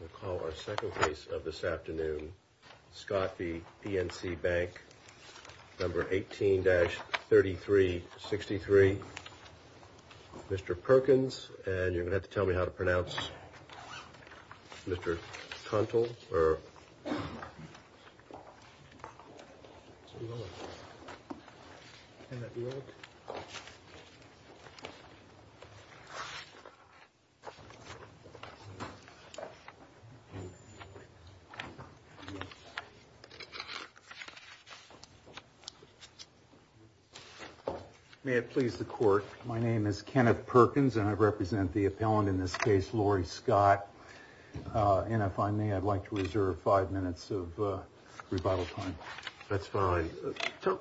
We'll call our second case of this afternoon. Scott v PNC Bank number 18-3363. Mr. Perkins, and you're going to have to tell me how to pronounce Mr. Contal. May it please the court. My name is Kenneth Perkins and I represent the appellant in this case, Lori Scott. And if I may, I'd like to reserve five minutes of rebuttal time. That's fine.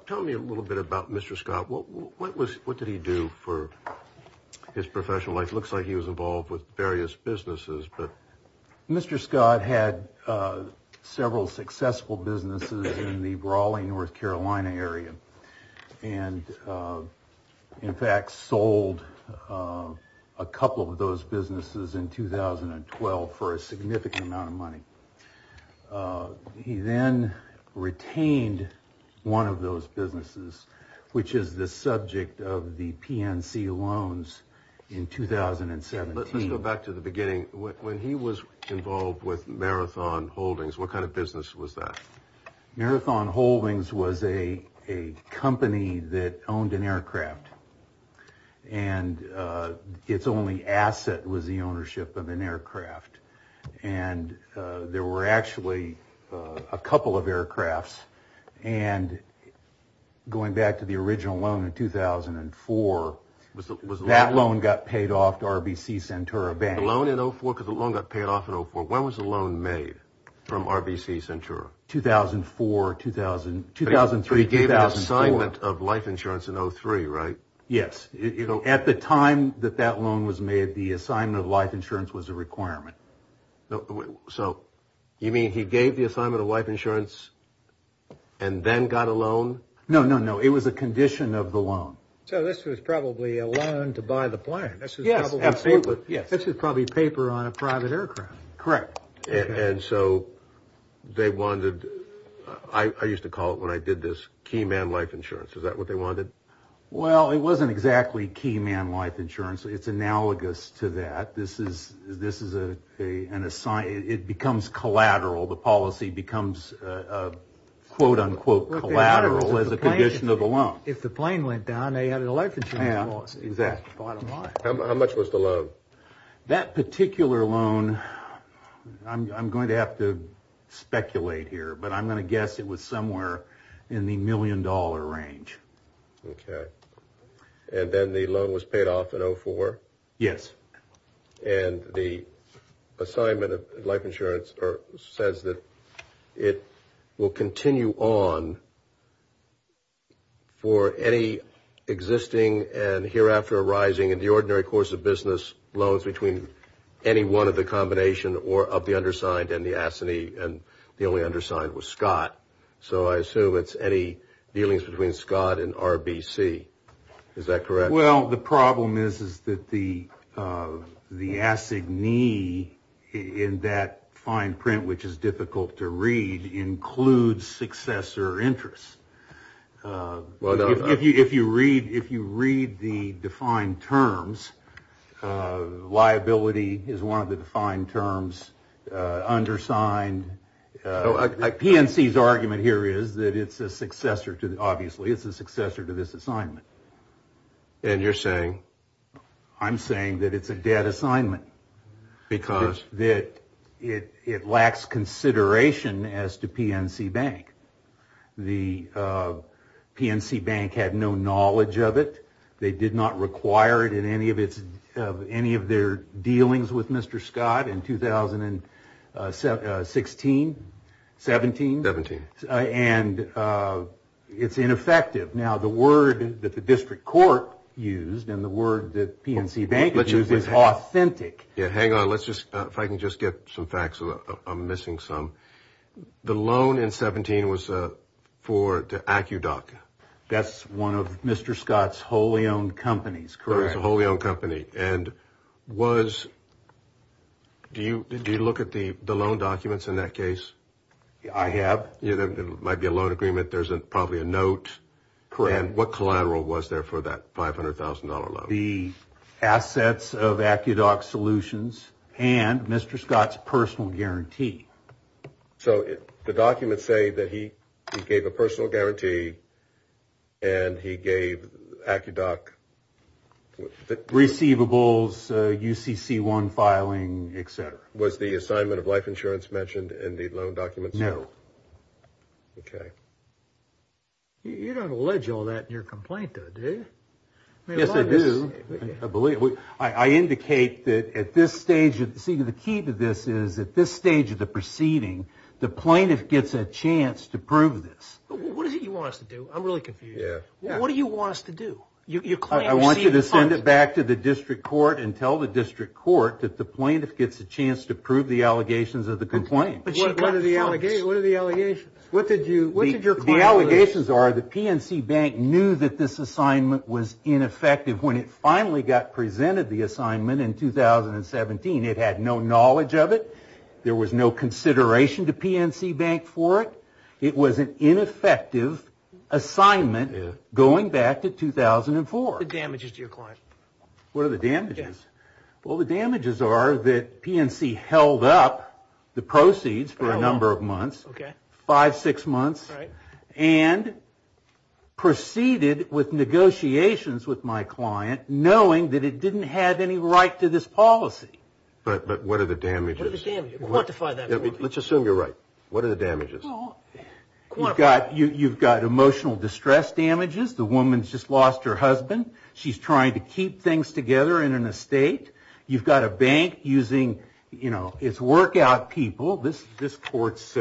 Tell me a little bit about Mr. Scott. What was what did he do for his professional life? Looks like he was involved with various businesses, but Mr. Scott had several successful businesses in the Raleigh, North Carolina area. And in fact, sold a couple of those businesses in 2012 for a significant amount of money. He then retained one of those businesses, which is the subject of the PNC loans in 2017. Let's go back to the beginning. When he was involved with Marathon Holdings, what kind of business was that? Marathon Holdings was a company that owned an aircraft and its only asset was the ownership of an aircraft. And there were actually a couple of aircrafts. And going back to the original loan in 2004, that loan got paid off to RBC Centura Bank. The loan in 04, because the loan got paid off in 04. When was the loan made from RBC Centura? 2004, 2000, 2003, 2004. But he gave an assignment of life insurance in 03, right? Yes. You know, at the time that that loan was made, the assignment of life insurance was a requirement. So you mean he gave the assignment of life insurance and then got a loan? No, no, no. It was a condition of the loan. So this was probably a loan to buy the plane. This is probably paper on a private aircraft. Correct. And so they wanted, I used to call it when I did this, key man life insurance. Is that what they wanted? Well, it wasn't exactly key man life insurance. It's analogous to that. This is an assignment. It becomes collateral. The policy becomes, quote unquote, collateral as a condition of the loan. If the plane went down, they had a life insurance policy. Exactly. Bottom line. How much was the loan? That particular loan, I'm going to have to speculate here, but I'm going to guess it was somewhere in the million dollar range. OK. And then the loan was paid off in 04? Yes. And the assignment of life insurance says that it will continue on for any existing and hereafter arising in the ordinary course of business loans between any one of the combination or of the undersigned and the assignee. So I assume it's any dealings between Scott and RBC. Is that correct? Well, the problem is, is that the the assignee in that fine print, which is difficult to read, includes successor interest. Well, if you if you read if you read the defined terms, liability is one of the defined terms. Undersigned PNC's argument here is that it's a successor to obviously it's a successor to this assignment. And you're saying I'm saying that it's a dead assignment because that it it lacks consideration as to PNC Bank. The PNC Bank had no knowledge of it. They did not require it in any of its of any of their dealings with Mr. Scott in 2016, 17, 17. And it's ineffective. Now, the word that the district court used and the word that PNC Bank, which is authentic. Yeah. Hang on. Let's just if I can just get some facts, I'm missing some. The loan in 17 was for AccuDoc. That's one of Mr. Scott's wholly owned companies, a wholly owned company. And was. Do you did you look at the loan documents in that case? I have. There might be a loan agreement. There's probably a note. Correct. What collateral was there for that five hundred thousand dollar loan? The assets of AccuDoc solutions and Mr. Scott's personal guarantee. So the documents say that he gave a personal guarantee. And he gave AccuDoc. Receivables, UCC one filing, etc. Was the assignment of life insurance mentioned in the loan documents? No. OK. You don't allege all that in your complaint, do you? Yes, I do. I believe I indicate that at this stage, see, the key to this is at this stage of the proceeding, the plaintiff gets a chance to prove this. What do you want us to do? I'm really confused. What do you want us to do? You claim I want you to send it back to the district court and tell the district court that the plaintiff gets a chance to prove the allegations of the complaint. But what are the allegations? What are the allegations? What did you what did your allegations are? The PNC Bank knew that this assignment was ineffective when it finally got presented the assignment in 2017. It had no knowledge of it. There was no consideration to PNC Bank for it. It was an ineffective assignment going back to 2004. The damages to your client. What are the damages? Well, the damages are that PNC held up the proceeds for a number of months. OK. Five, six months. Right. And proceeded with negotiations with my client knowing that it didn't have any right to this policy. But but what are the damages? Quantify that. Let's assume you're right. What are the damages? Well, you've got you've got emotional distress damages. The woman's just lost her husband. She's trying to keep things together in an estate. You've got a bank using, you know, it's workout people. This this court's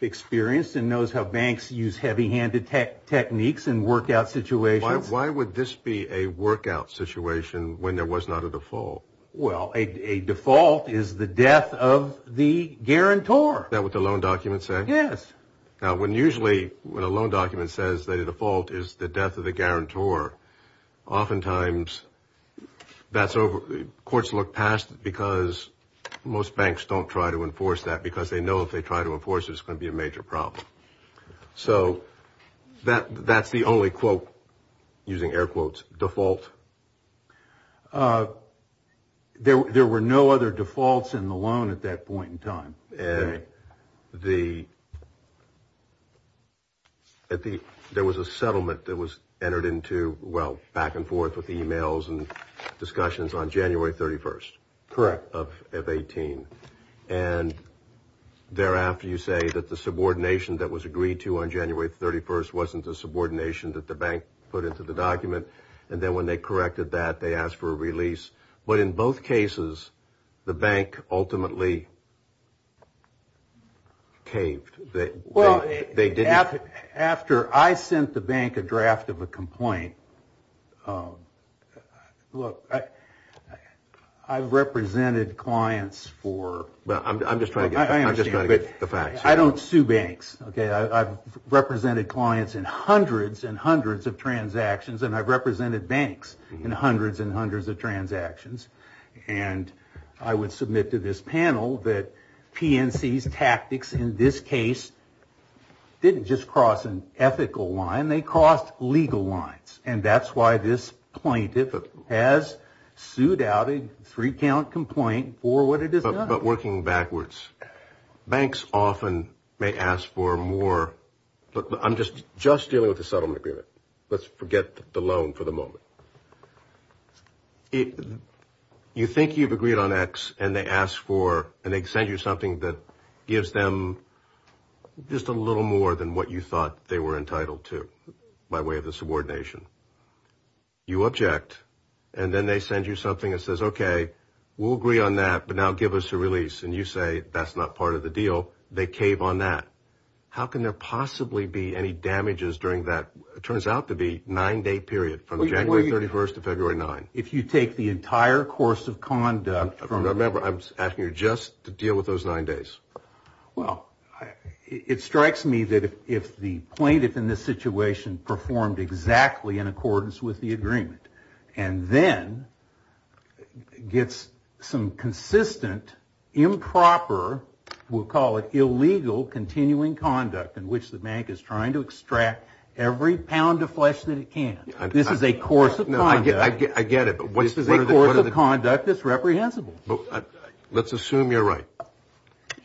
experience and knows how banks use heavy handed tech techniques and workout situations. Why would this be a workout situation when there was not a default? Well, a default is the death of the guarantor. That with the loan documents. Yes. Now, when usually when a loan document says that a default is the death of the guarantor, oftentimes that's over. Courts look past because most banks don't try to enforce that because they know if they try to enforce, it's going to be a major problem. So that that's the only quote using air quotes default. There were no other defaults in the loan at that point in time. And the. At the there was a settlement that was entered into, well, back and forth with the emails and discussions on January 31st. Correct. Of of 18. And thereafter, you say that the subordination that was agreed to on January 31st wasn't the subordination that the bank put into the document. And then when they corrected that, they asked for a release. But in both cases, the bank ultimately. Caved that they did after after I sent the bank a draft of a complaint. Look, I I've represented clients for. But I'm just trying to get the facts. I don't sue banks. OK, I've represented clients in hundreds and hundreds of transactions, and I've represented banks in hundreds and hundreds of transactions. And I would submit to this panel that PNC's tactics in this case didn't just cross an ethical line, they crossed legal lines. And that's why this plaintiff has sued out a three count complaint for what it is about working backwards. Banks often may ask for more. But I'm just just dealing with a settlement agreement. Let's forget the loan for the moment. You think you've agreed on X and they ask for and they send you something that gives them just a little more than what you thought they were entitled to by way of the subordination. You object and then they send you something that says, OK, we'll agree on that, but now give us a release. And you say that's not part of the deal. They cave on that. How can there possibly be any damages during that? Turns out to be nine day period from January 31st of February nine. If you take the entire course of conduct from remember, I'm asking you just to deal with those nine days. Well, it strikes me that if the plaintiff in this situation performed exactly in accordance with the agreement and then gets some consistent improper, we'll call it illegal, continuing conduct in which the bank is trying to extract every pound of flesh that it can. This is a course of no, I get it. But what is the course of conduct that's reprehensible? Let's assume you're right.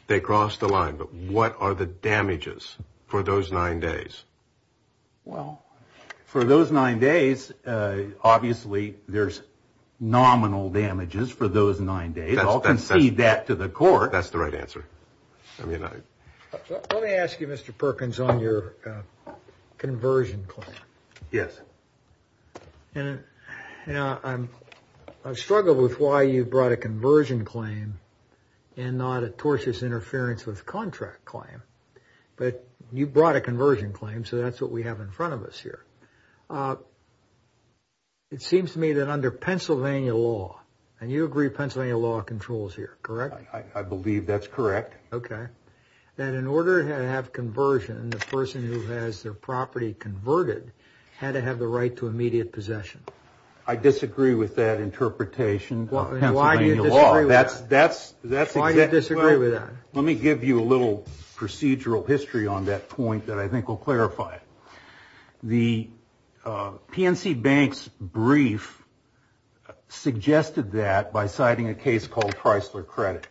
They crossed the line. But what are the damages for those nine days? Well, for those nine days, obviously, there's nominal damages for those nine days. I'll concede that to the court. That's the right answer. I mean, let me ask you, Mr. Perkins, on your conversion claim. Yes. And I'm I've struggled with why you brought a conversion claim and not a tortious interference with contract claim. But you brought a conversion claim. So that's what we have in front of us here. It seems to me that under Pennsylvania law and you agree, Pennsylvania law controls here, correct? I believe that's correct. OK, that in order to have conversion, the person who has their property converted had to have the right to immediate possession. I disagree with that interpretation. Well, why do you disagree? That's that's that's why you disagree with that. Let me give you a little procedural history on that point that I think will clarify it. The PNC Bank's brief suggested that by citing a case called Chrysler Credit.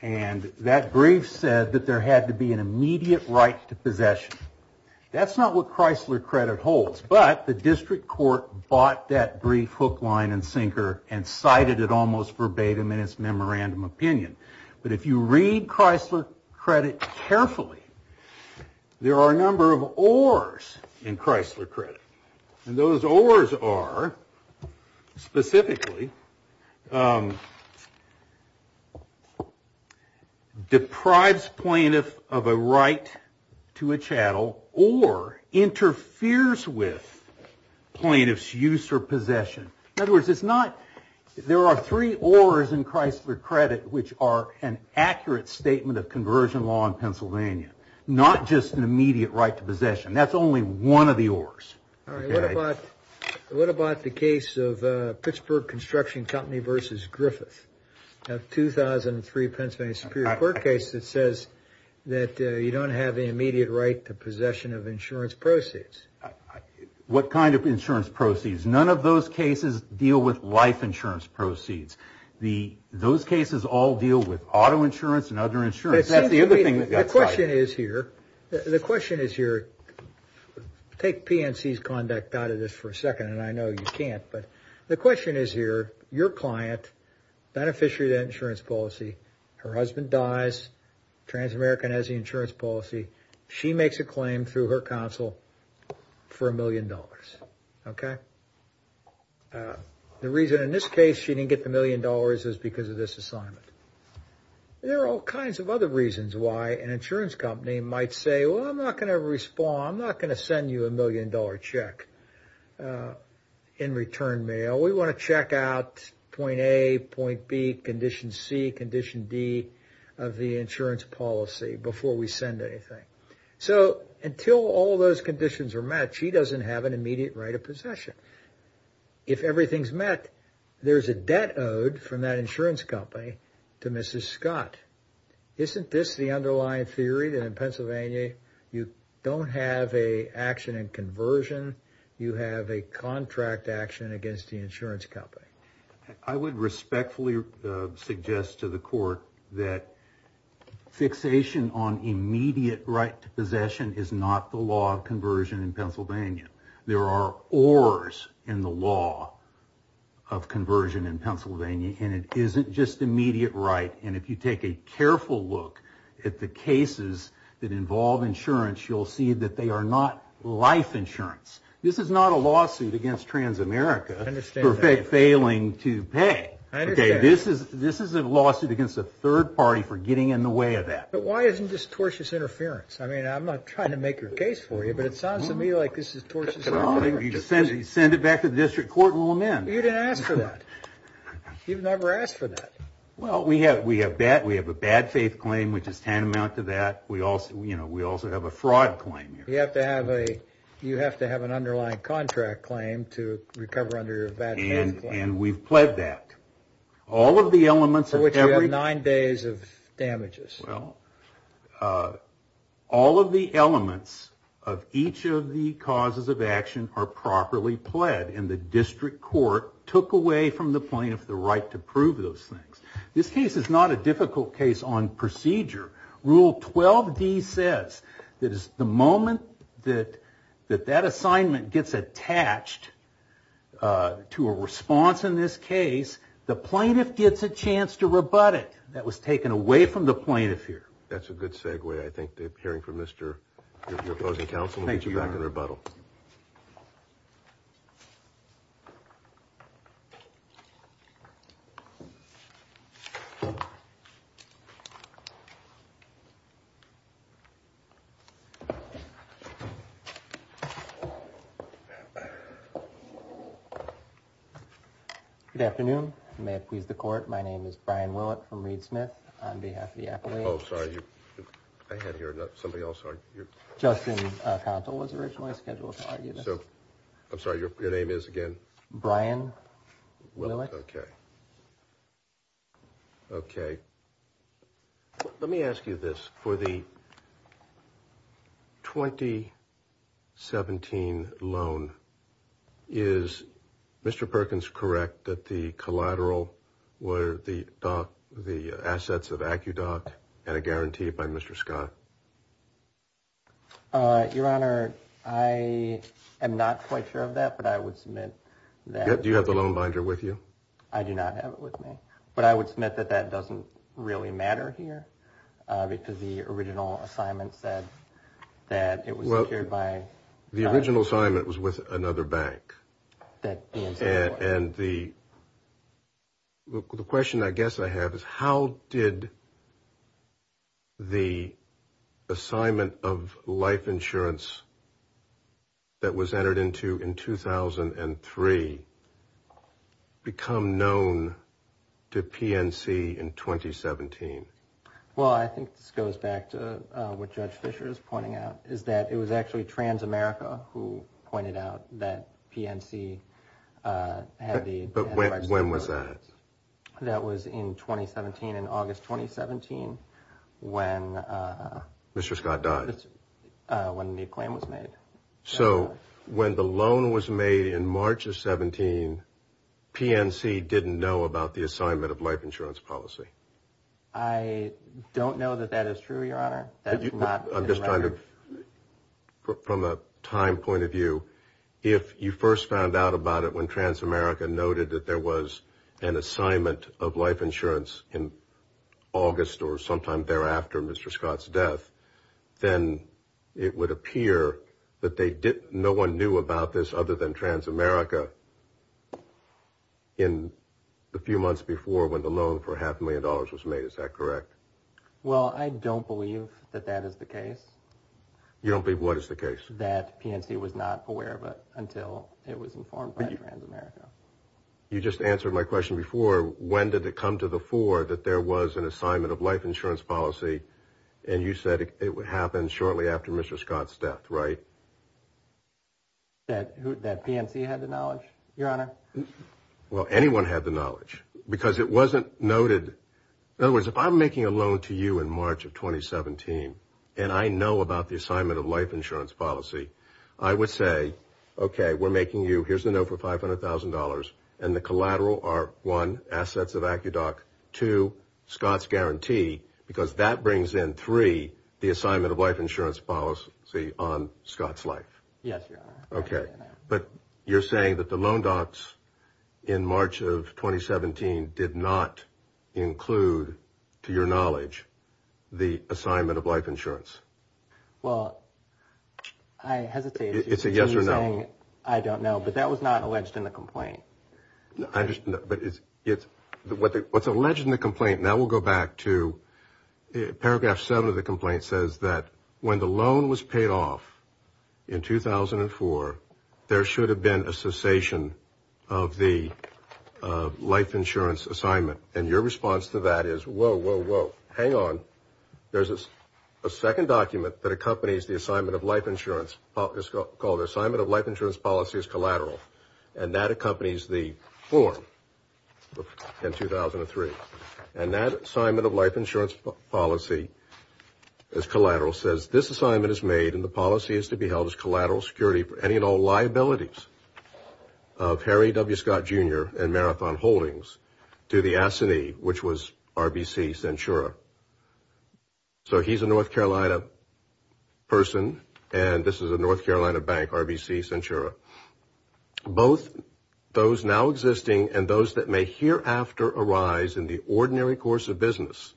And that brief said that there had to be an immediate right to possession. That's not what Chrysler Credit holds. But the district court bought that brief hook, line and sinker and cited it almost verbatim in its memorandum opinion. But if you read Chrysler Credit carefully, there are a number of oars in Chrysler Credit. And those oars are specifically. Deprives plaintiff of a right to a chattel or interferes with plaintiff's use or possession. In other words, it's not there are three oars in Chrysler Credit, which are an accurate statement of conversion law in Pennsylvania, not just an immediate right to possession. That's only one of the oars. All right. What about what about the case of Pittsburgh Construction Company versus Griffith of 2003? Pennsylvania Superior Court case that says that you don't have the immediate right to possession of insurance proceeds. What kind of insurance proceeds? None of those cases deal with life insurance proceeds. The those cases all deal with auto insurance and other insurance. That's the other thing. The question is here. The question is here. Take PNC's conduct out of this for a second, and I know you can't. But the question is here, your client, beneficiary of that insurance policy. Her husband dies. Trans-American has the insurance policy. She makes a claim through her counsel for a million dollars. OK. The reason in this case she didn't get the million dollars is because of this assignment. There are all kinds of other reasons why an insurance company might say, well, I'm not going to respond, I'm not going to send you a million dollar check in return mail. We want to check out point A, point B, condition C, condition D of the insurance policy before we send anything. So until all those conditions are met, she doesn't have an immediate right of possession. If everything's met, there's a debt owed from that insurance company to Mrs. Scott. Isn't this the underlying theory that in Pennsylvania you don't have a action and conversion you have a contract action against the insurance company? I would respectfully suggest to the court that fixation on immediate right to possession is not the law of conversion in Pennsylvania. There are ors in the law of conversion in Pennsylvania, and it isn't just immediate right. And if you take a careful look at the cases that involve insurance, you'll see that they are not life insurance. This is not a lawsuit against Trans-America for failing to pay. Okay, this is a lawsuit against a third party for getting in the way of that. But why isn't this tortious interference? I mean, I'm not trying to make your case for you, but it sounds to me like this is tortious interference. You send it back to the district court and we'll amend. You didn't ask for that. You've never asked for that. Well, we have a bad faith claim, which is tantamount to that. We also have a fraud claim. You have to have an underlying contract claim to recover under a bad faith claim. And we've pled that. All of the elements of every... For which you have nine days of damages. Well, all of the elements of each of the causes of action are properly pled, and the district court took away from the plaintiff the right to prove those things. This case is not a difficult case on procedure. Rule 12D says that the moment that that assignment gets attached to a response in this case, the plaintiff gets a chance to rebut it. That was taken away from the plaintiff here. That's a good segue, I think, hearing from your opposing counsel. Thank you, Your Honor. We'll get you back in rebuttal. Thank you. Good afternoon. May it please the court. My name is Brian Willett from Reed Smith. On behalf of the apple age... Oh, sorry. I had to hear something else. Justin Contal was originally scheduled to argue this. I'm sorry. Your name is again? Brian Willett. Willett. Okay. Okay. Let me ask you this. For the 2017 loan, is Mr. Perkins correct that the collateral were the assets of AccuDoc and a guarantee by Mr. Scott? Your Honor, I am not quite sure of that, but I would submit that... Do you have the loan binder with you? I do not have it with me. But I would submit that that doesn't really matter here, because the original assignment said that it was secured by... Well, the original assignment was with another bank. And the question I guess I have is, how did the assignment of life insurance that was entered into in 2003 become known to PNC in 2017? Well, I think this goes back to what Judge Fischer is pointing out, is that it was actually Transamerica who pointed out that PNC had the... But when was that? That was in 2017, in August 2017, when... Mr. Scott died. When the claim was made. So when the loan was made in March of 17, PNC didn't know about the assignment of life insurance policy. I don't know that that is true, Your Honor. I'm just trying to, from a time point of view, if you first found out about it when Transamerica noted that there was an assignment of life insurance in August or sometime thereafter Mr. Scott's death, then it would appear that no one knew about this other than Transamerica in the few months before when the loan for half a million dollars was made. Is that correct? Well, I don't believe that that is the case. You don't believe what is the case? That PNC was not aware of it until it was informed by Transamerica. You just answered my question before, when did it come to the fore that there was an assignment of life insurance policy and you said it happened shortly after Mr. Scott's death, right? That PNC had the knowledge, Your Honor? Well, anyone had the knowledge because it wasn't noted. In other words, if I'm making a loan to you in March of 2017 and I know about the assignment of life insurance policy, I would say, okay, we're making you, here's the note for $500,000 and the collateral are, one, assets of ACUDOC, two, Scott's guarantee, because that brings in, three, the assignment of life insurance policy on Scott's life. Yes, Your Honor. Okay, but you're saying that the loan docs in March of 2017 did not include, to your knowledge, the assignment of life insurance? Well, I hesitate to continue saying I don't know, but that was not alleged in the complaint. I understand that, but what's alleged in the complaint, now we'll go back to paragraph seven of the complaint, says that when the loan was paid off in 2004, there should have been a cessation of the life insurance assignment, and your response to that is, whoa, whoa, whoa, hang on. There's a second document that accompanies the assignment of life insurance. It's called the assignment of life insurance policy as collateral, and that accompanies the form in 2003, and that assignment of life insurance policy as collateral says, this assignment is made and the policy is to be held as collateral security for any and all liabilities of Harry W. Scott, Jr. and Marathon Holdings to the S&E, which was RBC Centura. So he's a North Carolina person, and this is a North Carolina bank, RBC Centura. Both those now existing and those that may hereafter arise in the ordinary course of business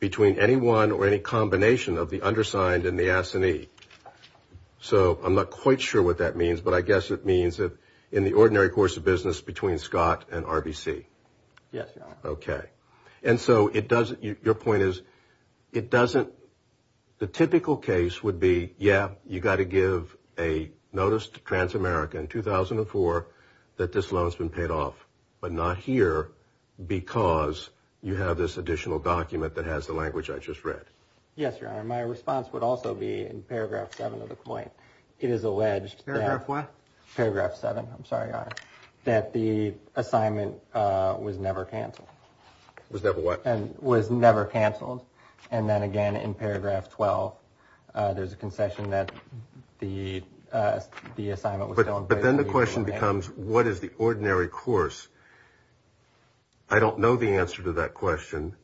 between anyone or any combination of the undersigned and the S&E. So I'm not quite sure what that means, but I guess it means that in the ordinary course of business between Scott and RBC. Yes, Your Honor. Okay. And so it doesn't, your point is, it doesn't, the typical case would be, yeah, you got to give a notice to Transamerica in 2004 that this loan's been paid off, but not here because you have this additional document that has the language I just read. Yes, Your Honor. My response would also be in paragraph seven of the complaint. It is alleged that. Paragraph what? Paragraph seven. I'm sorry, Your Honor. That the assignment was never canceled. Was never what? Was never canceled, and then again in paragraph 12, there's a concession that the assignment was still in place. But then the question becomes, what is the ordinary course? I don't know the answer to that question.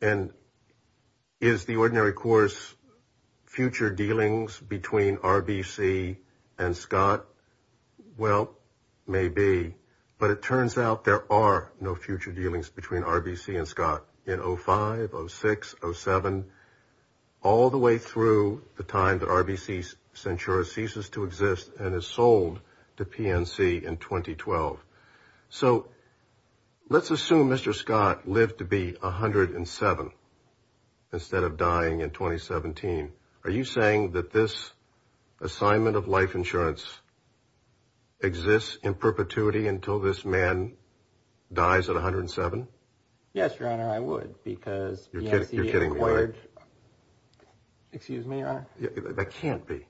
And is the ordinary course future dealings between RBC and Scott? Well, maybe. But it turns out there are no future dealings between RBC and Scott in 05, 06, 07. All the way through the time that RBC Centura ceases to exist and is sold to PNC in 2012. So let's assume Mr. Scott lived to be 107 instead of dying in 2017. Are you saying that this assignment of life insurance exists in perpetuity until this man dies at 107? Yes, Your Honor, I would because PNC acquired. Excuse me, Your Honor. That can't be.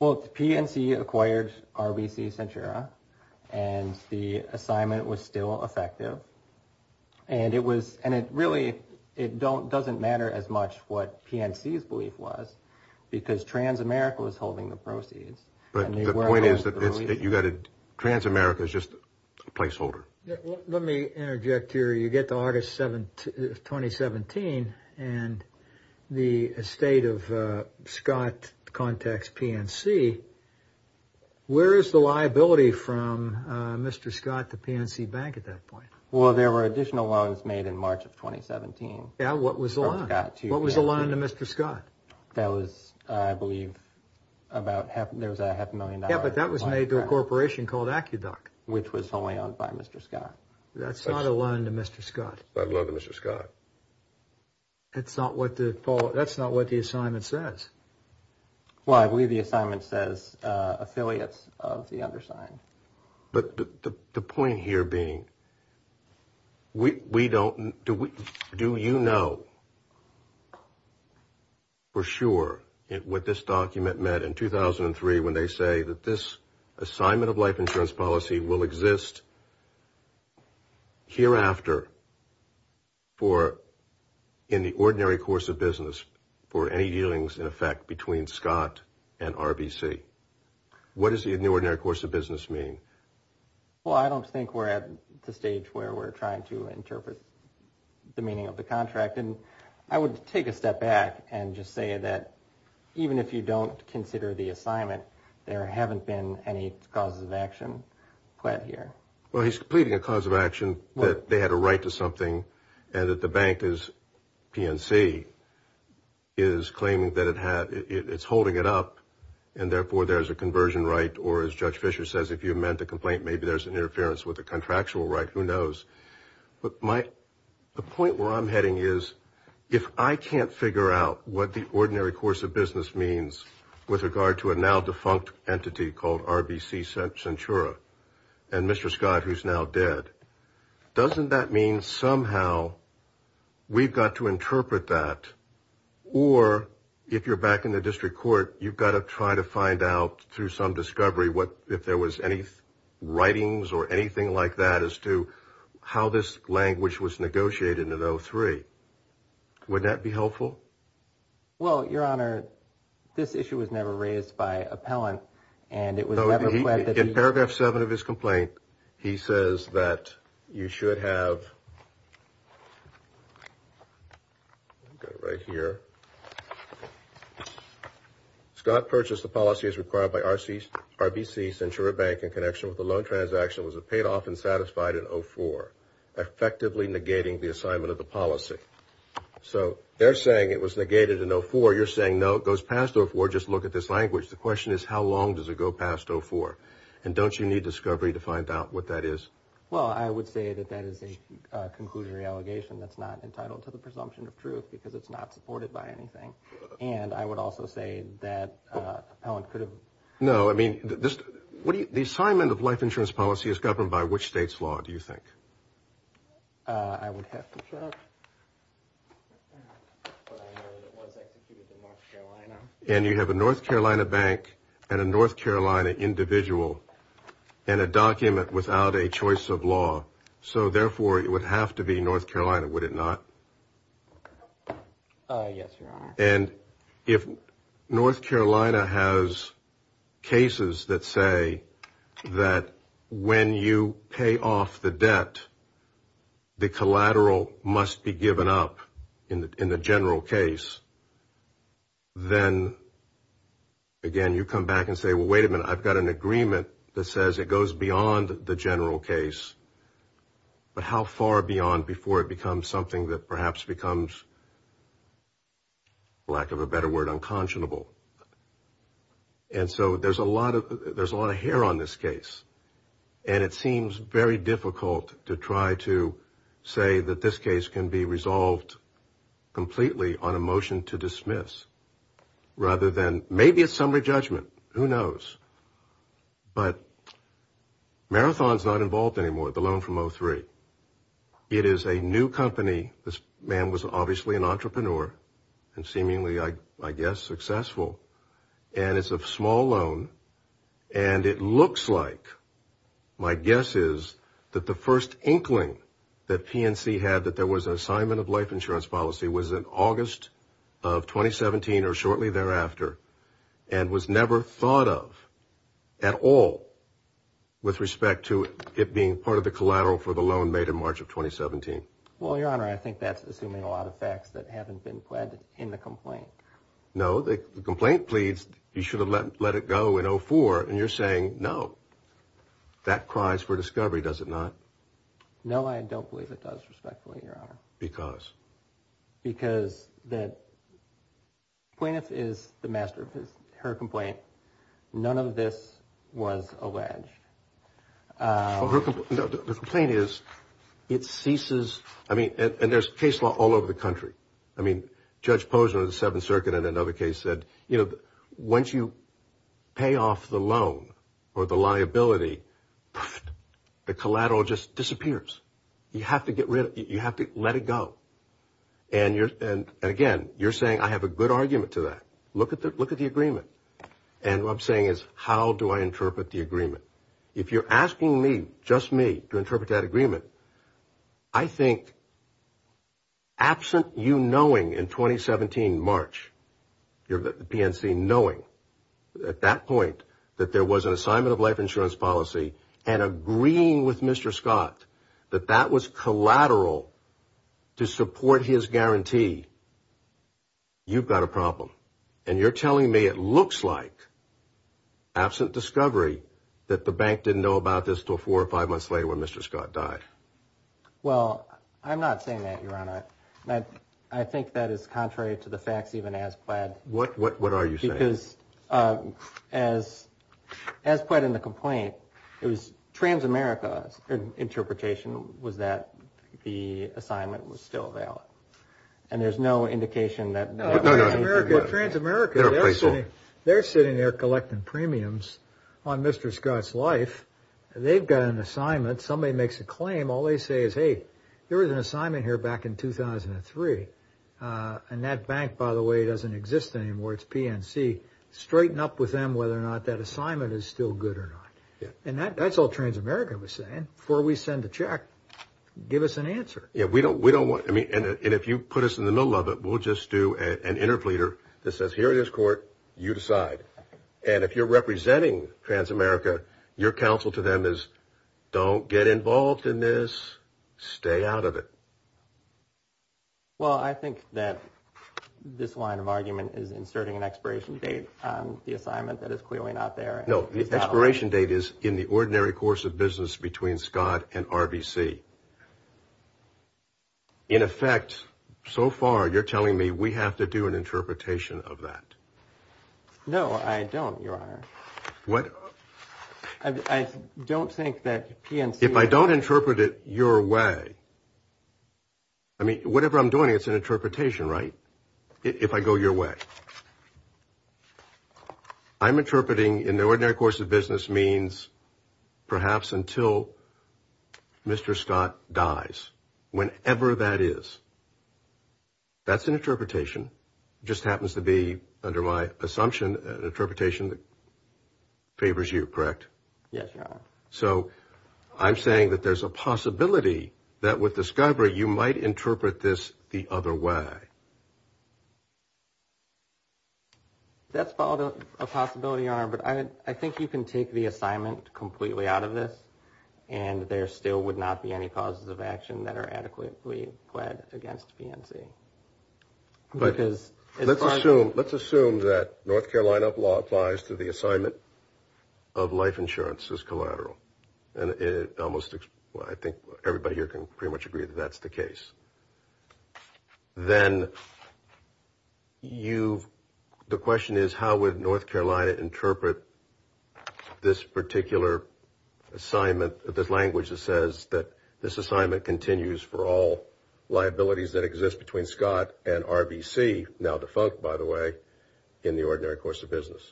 Well, PNC acquired RBC Centura and the assignment was still effective. And it really doesn't matter as much what PNC's belief was because Transamerica was holding the proceeds. But the point is that Transamerica is just a placeholder. Let me interject here. So you get to August 2017 and the estate of Scott contacts PNC. Where is the liability from Mr. Scott to PNC Bank at that point? Well, there were additional loans made in March of 2017. Yeah, what was the loan? What was the loan to Mr. Scott? That was, I believe, about half a million dollars. Yeah, but that was made to a corporation called AccuDoc. Which was only owned by Mr. Scott. That's not a loan to Mr. Scott. That's a loan to Mr. Scott. That's not what the assignment says. Well, I believe the assignment says affiliates of the undersigned. But the point here being, we don't, do you know for sure what this document meant in 2003 when they say that this assignment of life insurance policy will exist hereafter in the ordinary course of business for any dealings in effect between Scott and RBC. What does the ordinary course of business mean? Well, I don't think we're at the stage where we're trying to interpret the meaning of the contract. I would take a step back and just say that even if you don't consider the assignment, there haven't been any causes of action quite here. Well, he's pleading a cause of action that they had a right to something and that the bank, PNC, is claiming that it's holding it up and therefore there's a conversion right or, as Judge Fisher says, if you meant the complaint, maybe there's an interference with the contractual right. Who knows? But the point where I'm heading is if I can't figure out what the ordinary course of business means with regard to a now defunct entity called RBC Centura and Mr. Scott who's now dead, doesn't that mean somehow we've got to interpret that? Or if you're back in the district court, you've got to try to find out through some discovery if there was any writings or anything like that as to how this language was negotiated in 03. Would that be helpful? Well, Your Honor, this issue was never raised by appellant. In paragraph 7 of his complaint, he says that you should have right here. Scott purchased the policy as required by RBC Centura Bank in connection with a loan transaction was it paid off and satisfied in 04, effectively negating the assignment of the policy. So they're saying it was negated in 04. You're saying no, it goes past 04, just look at this language. The question is how long does it go past 04? And don't you need discovery to find out what that is? Well, I would say that that is a conclusionary allegation that's not entitled to the presumption of truth because it's not supported by anything. And I would also say that appellant could have. No, I mean, the assignment of life insurance policy is governed by which state's law, do you think? I would have to check. And you have a North Carolina bank and a North Carolina individual and a document without a choice of law. So, therefore, it would have to be North Carolina, would it not? Yes, Your Honor. And if North Carolina has cases that say that when you pay off the debt, the collateral must be given up in the general case, then, again, you come back and say, well, wait a minute, I've got an agreement that says it goes beyond the general case. But how far beyond before it becomes something that perhaps becomes, lack of a better word, unconscionable? And so there's a lot of hair on this case. And it seems very difficult to try to say that this case can be resolved completely on a motion to dismiss, rather than maybe a summary judgment. Who knows? But Marathon's not involved anymore, the loan from 03. It is a new company. This man was obviously an entrepreneur and seemingly, I guess, successful. And it's a small loan. And it looks like, my guess is, that the first inkling that PNC had that there was an assignment of life insurance policy was in August of 2017, or shortly thereafter, and was never thought of at all with respect to it being part of the collateral for the loan made in March of 2017. Well, Your Honor, I think that's assuming a lot of facts that haven't been pledged in the complaint. No, the complaint pleads you should have let it go in 04, and you're saying no. That cries for discovery, does it not? No, I don't believe it does, respectfully, Your Honor. Why? Because. Because the plaintiff is the master of her complaint. None of this was alleged. The complaint is it ceases. I mean, and there's case law all over the country. I mean, Judge Posner of the Seventh Circuit in another case said, you know, once you pay off the loan or the liability, the collateral just disappears. You have to get rid of it. You have to let it go. And again, you're saying I have a good argument to that. Look at the agreement. And what I'm saying is how do I interpret the agreement? If you're asking me, just me, to interpret that agreement, I think absent you knowing in 2017, March, the PNC knowing at that point that there was an assignment of life insurance policy and agreeing with Mr. Scott that that was collateral to support his guarantee, you've got a problem. And you're telling me it looks like, absent discovery, that the bank didn't know about this until four or five months later when Mr. Scott died. Well, I'm not saying that, Your Honor. I think that is contrary to the facts even as pled. What are you saying? Because as put in the complaint, it was Trans-America's interpretation was that the assignment was still valid. And there's no indication that. No, no, no. Trans-America, they're sitting there collecting premiums on Mr. Scott's life. They've got an assignment. Somebody makes a claim. All they say is, hey, there was an assignment here back in 2003. And that bank, by the way, doesn't exist anymore. It's PNC. Straighten up with them whether or not that assignment is still good or not. And that's all Trans-America was saying. Before we send the check, give us an answer. Yeah, we don't want to. And if you put us in the middle of it, we'll just do an interpleader that says, here it is, court. You decide. And if you're representing Trans-America, your counsel to them is, don't get involved in this. Stay out of it. Well, I think that this line of argument is inserting an expiration date on the assignment that is clearly not there. No, the expiration date is in the ordinary course of business between Scott and RBC. In effect, so far, you're telling me we have to do an interpretation of that. No, I don't, Your Honor. What? I don't think that PNC. If I don't interpret it your way, I mean, whatever I'm doing, it's an interpretation, right? If I go your way. I'm interpreting in the ordinary course of business means perhaps until Mr. Scott dies, whenever that is. That's an interpretation. Just happens to be, under my assumption, an interpretation that favors you, correct? Yes, Your Honor. So I'm saying that there's a possibility that with the Skybird, you might interpret this the other way. That's a possibility, Your Honor. But I think you can take the assignment completely out of this. And there still would not be any causes of action that are adequately pled against PNC. Let's assume that North Carolina law applies to the assignment of life insurance as collateral. And I think everybody here can pretty much agree that that's the case. Then the question is how would North Carolina interpret this particular assignment, this language that says that this assignment continues for all liabilities that exist between Scott and RBC, now defunct, by the way, in the ordinary course of business.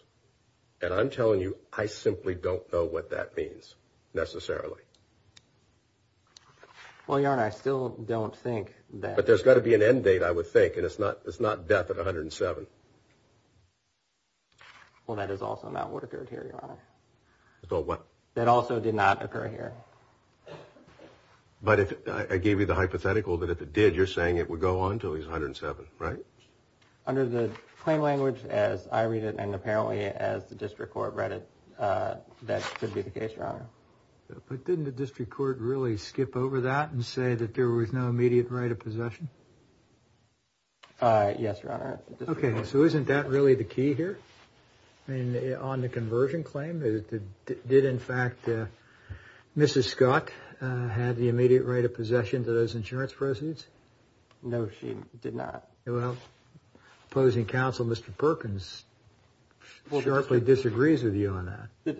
And I'm telling you, I simply don't know what that means, necessarily. Well, Your Honor, I still don't think that. But there's got to be an end date, I would think, and it's not death at 107. Well, that is also not what occurred here, Your Honor. What? That also did not occur here. But I gave you the hypothetical that if it did, you're saying it would go on until he's 107, right? Under the claim language as I read it and apparently as the district court read it, that should be the case, Your Honor. But didn't the district court really skip over that and say that there was no immediate right of possession? Yes, Your Honor. Okay, so isn't that really the key here? I mean, on the conversion claim, did in fact Mrs. Scott have the immediate right of possession to those insurance proceeds? No, she did not. Well, opposing counsel, Mr. Perkins, sharply disagrees with you on that.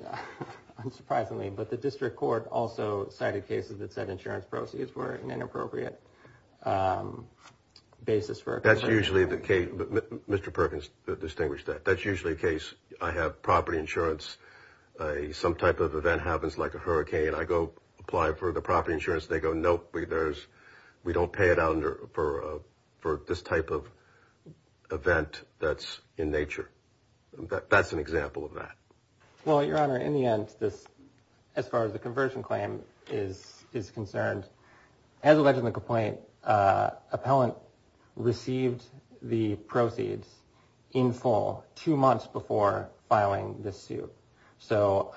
Unsurprisingly, but the district court also cited cases that said insurance proceeds were an inappropriate basis for a conversion. That's usually the case. Mr. Perkins distinguished that. That's usually the case. I have property insurance. Some type of event happens like a hurricane. I go apply for the property insurance. They go, nope, we don't pay it out for this type of event that's in nature. That's an example of that. Well, Your Honor, in the end, as far as the conversion claim is concerned, as alleged in the complaint, appellant received the proceeds in full two months before filing the suit. Two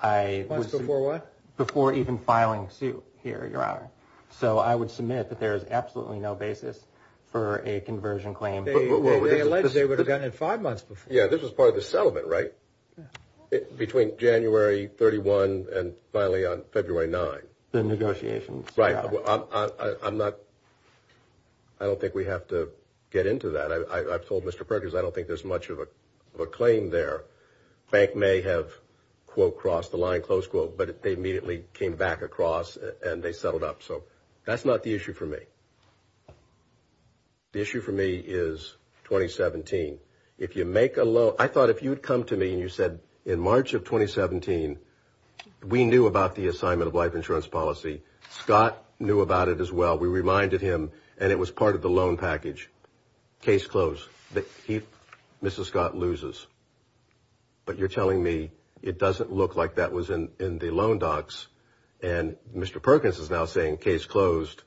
months before what? Before even filing suit here, Your Honor. So I would submit that there is absolutely no basis for a conversion claim. They alleged that they would have done it five months before. Yeah, this was part of the settlement, right? Between January 31 and finally on February 9. The negotiations. Right. I'm not, I don't think we have to get into that. I've told Mr. Perkins I don't think there's much of a claim there. Bank may have, quote, crossed the line, close quote, but they immediately came back across and they settled up. So that's not the issue for me. The issue for me is 2017. If you make a loan, I thought if you'd come to me and you said, in March of 2017, we knew about the assignment of life insurance policy. Scott knew about it as well. We reminded him and it was part of the loan package. Case closed. Mrs. Scott loses. But you're telling me it doesn't look like that was in the loan docs and Mr. Perkins is now saying case closed.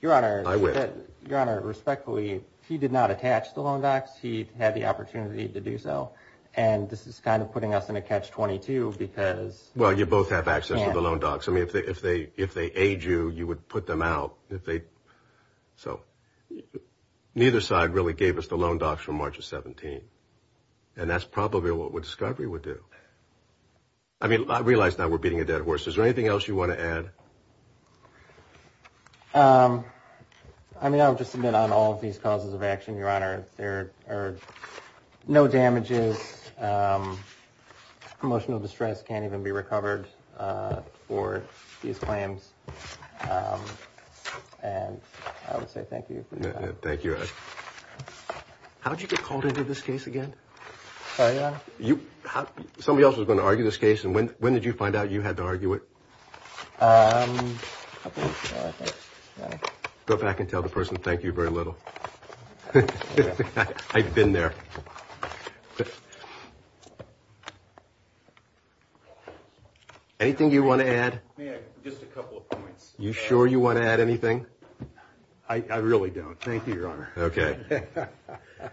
Your Honor, respectfully, he did not attach the loan docs. He had the opportunity to do so. And this is kind of putting us in a catch 22 because. Well, you both have access to the loan docs. I mean, if they if they if they aid you, you would put them out if they. So neither side really gave us the loan docs from March of 17. And that's probably what we would do. I mean, I realize that we're beating a dead horse. Is there anything else you want to add? I mean, I'll just submit on all of these causes of action. Your Honor, there are no damages. Emotional distress can't even be recovered for these claims. And I would say thank you. Thank you. How did you get called into this case again? You somebody else was going to argue this case. And when when did you find out you had to argue it? Go back and tell the person. Thank you very little. I've been there. Anything you want to add? Just a couple of points. You sure you want to add anything? I really don't. Thank you, Your Honor. OK.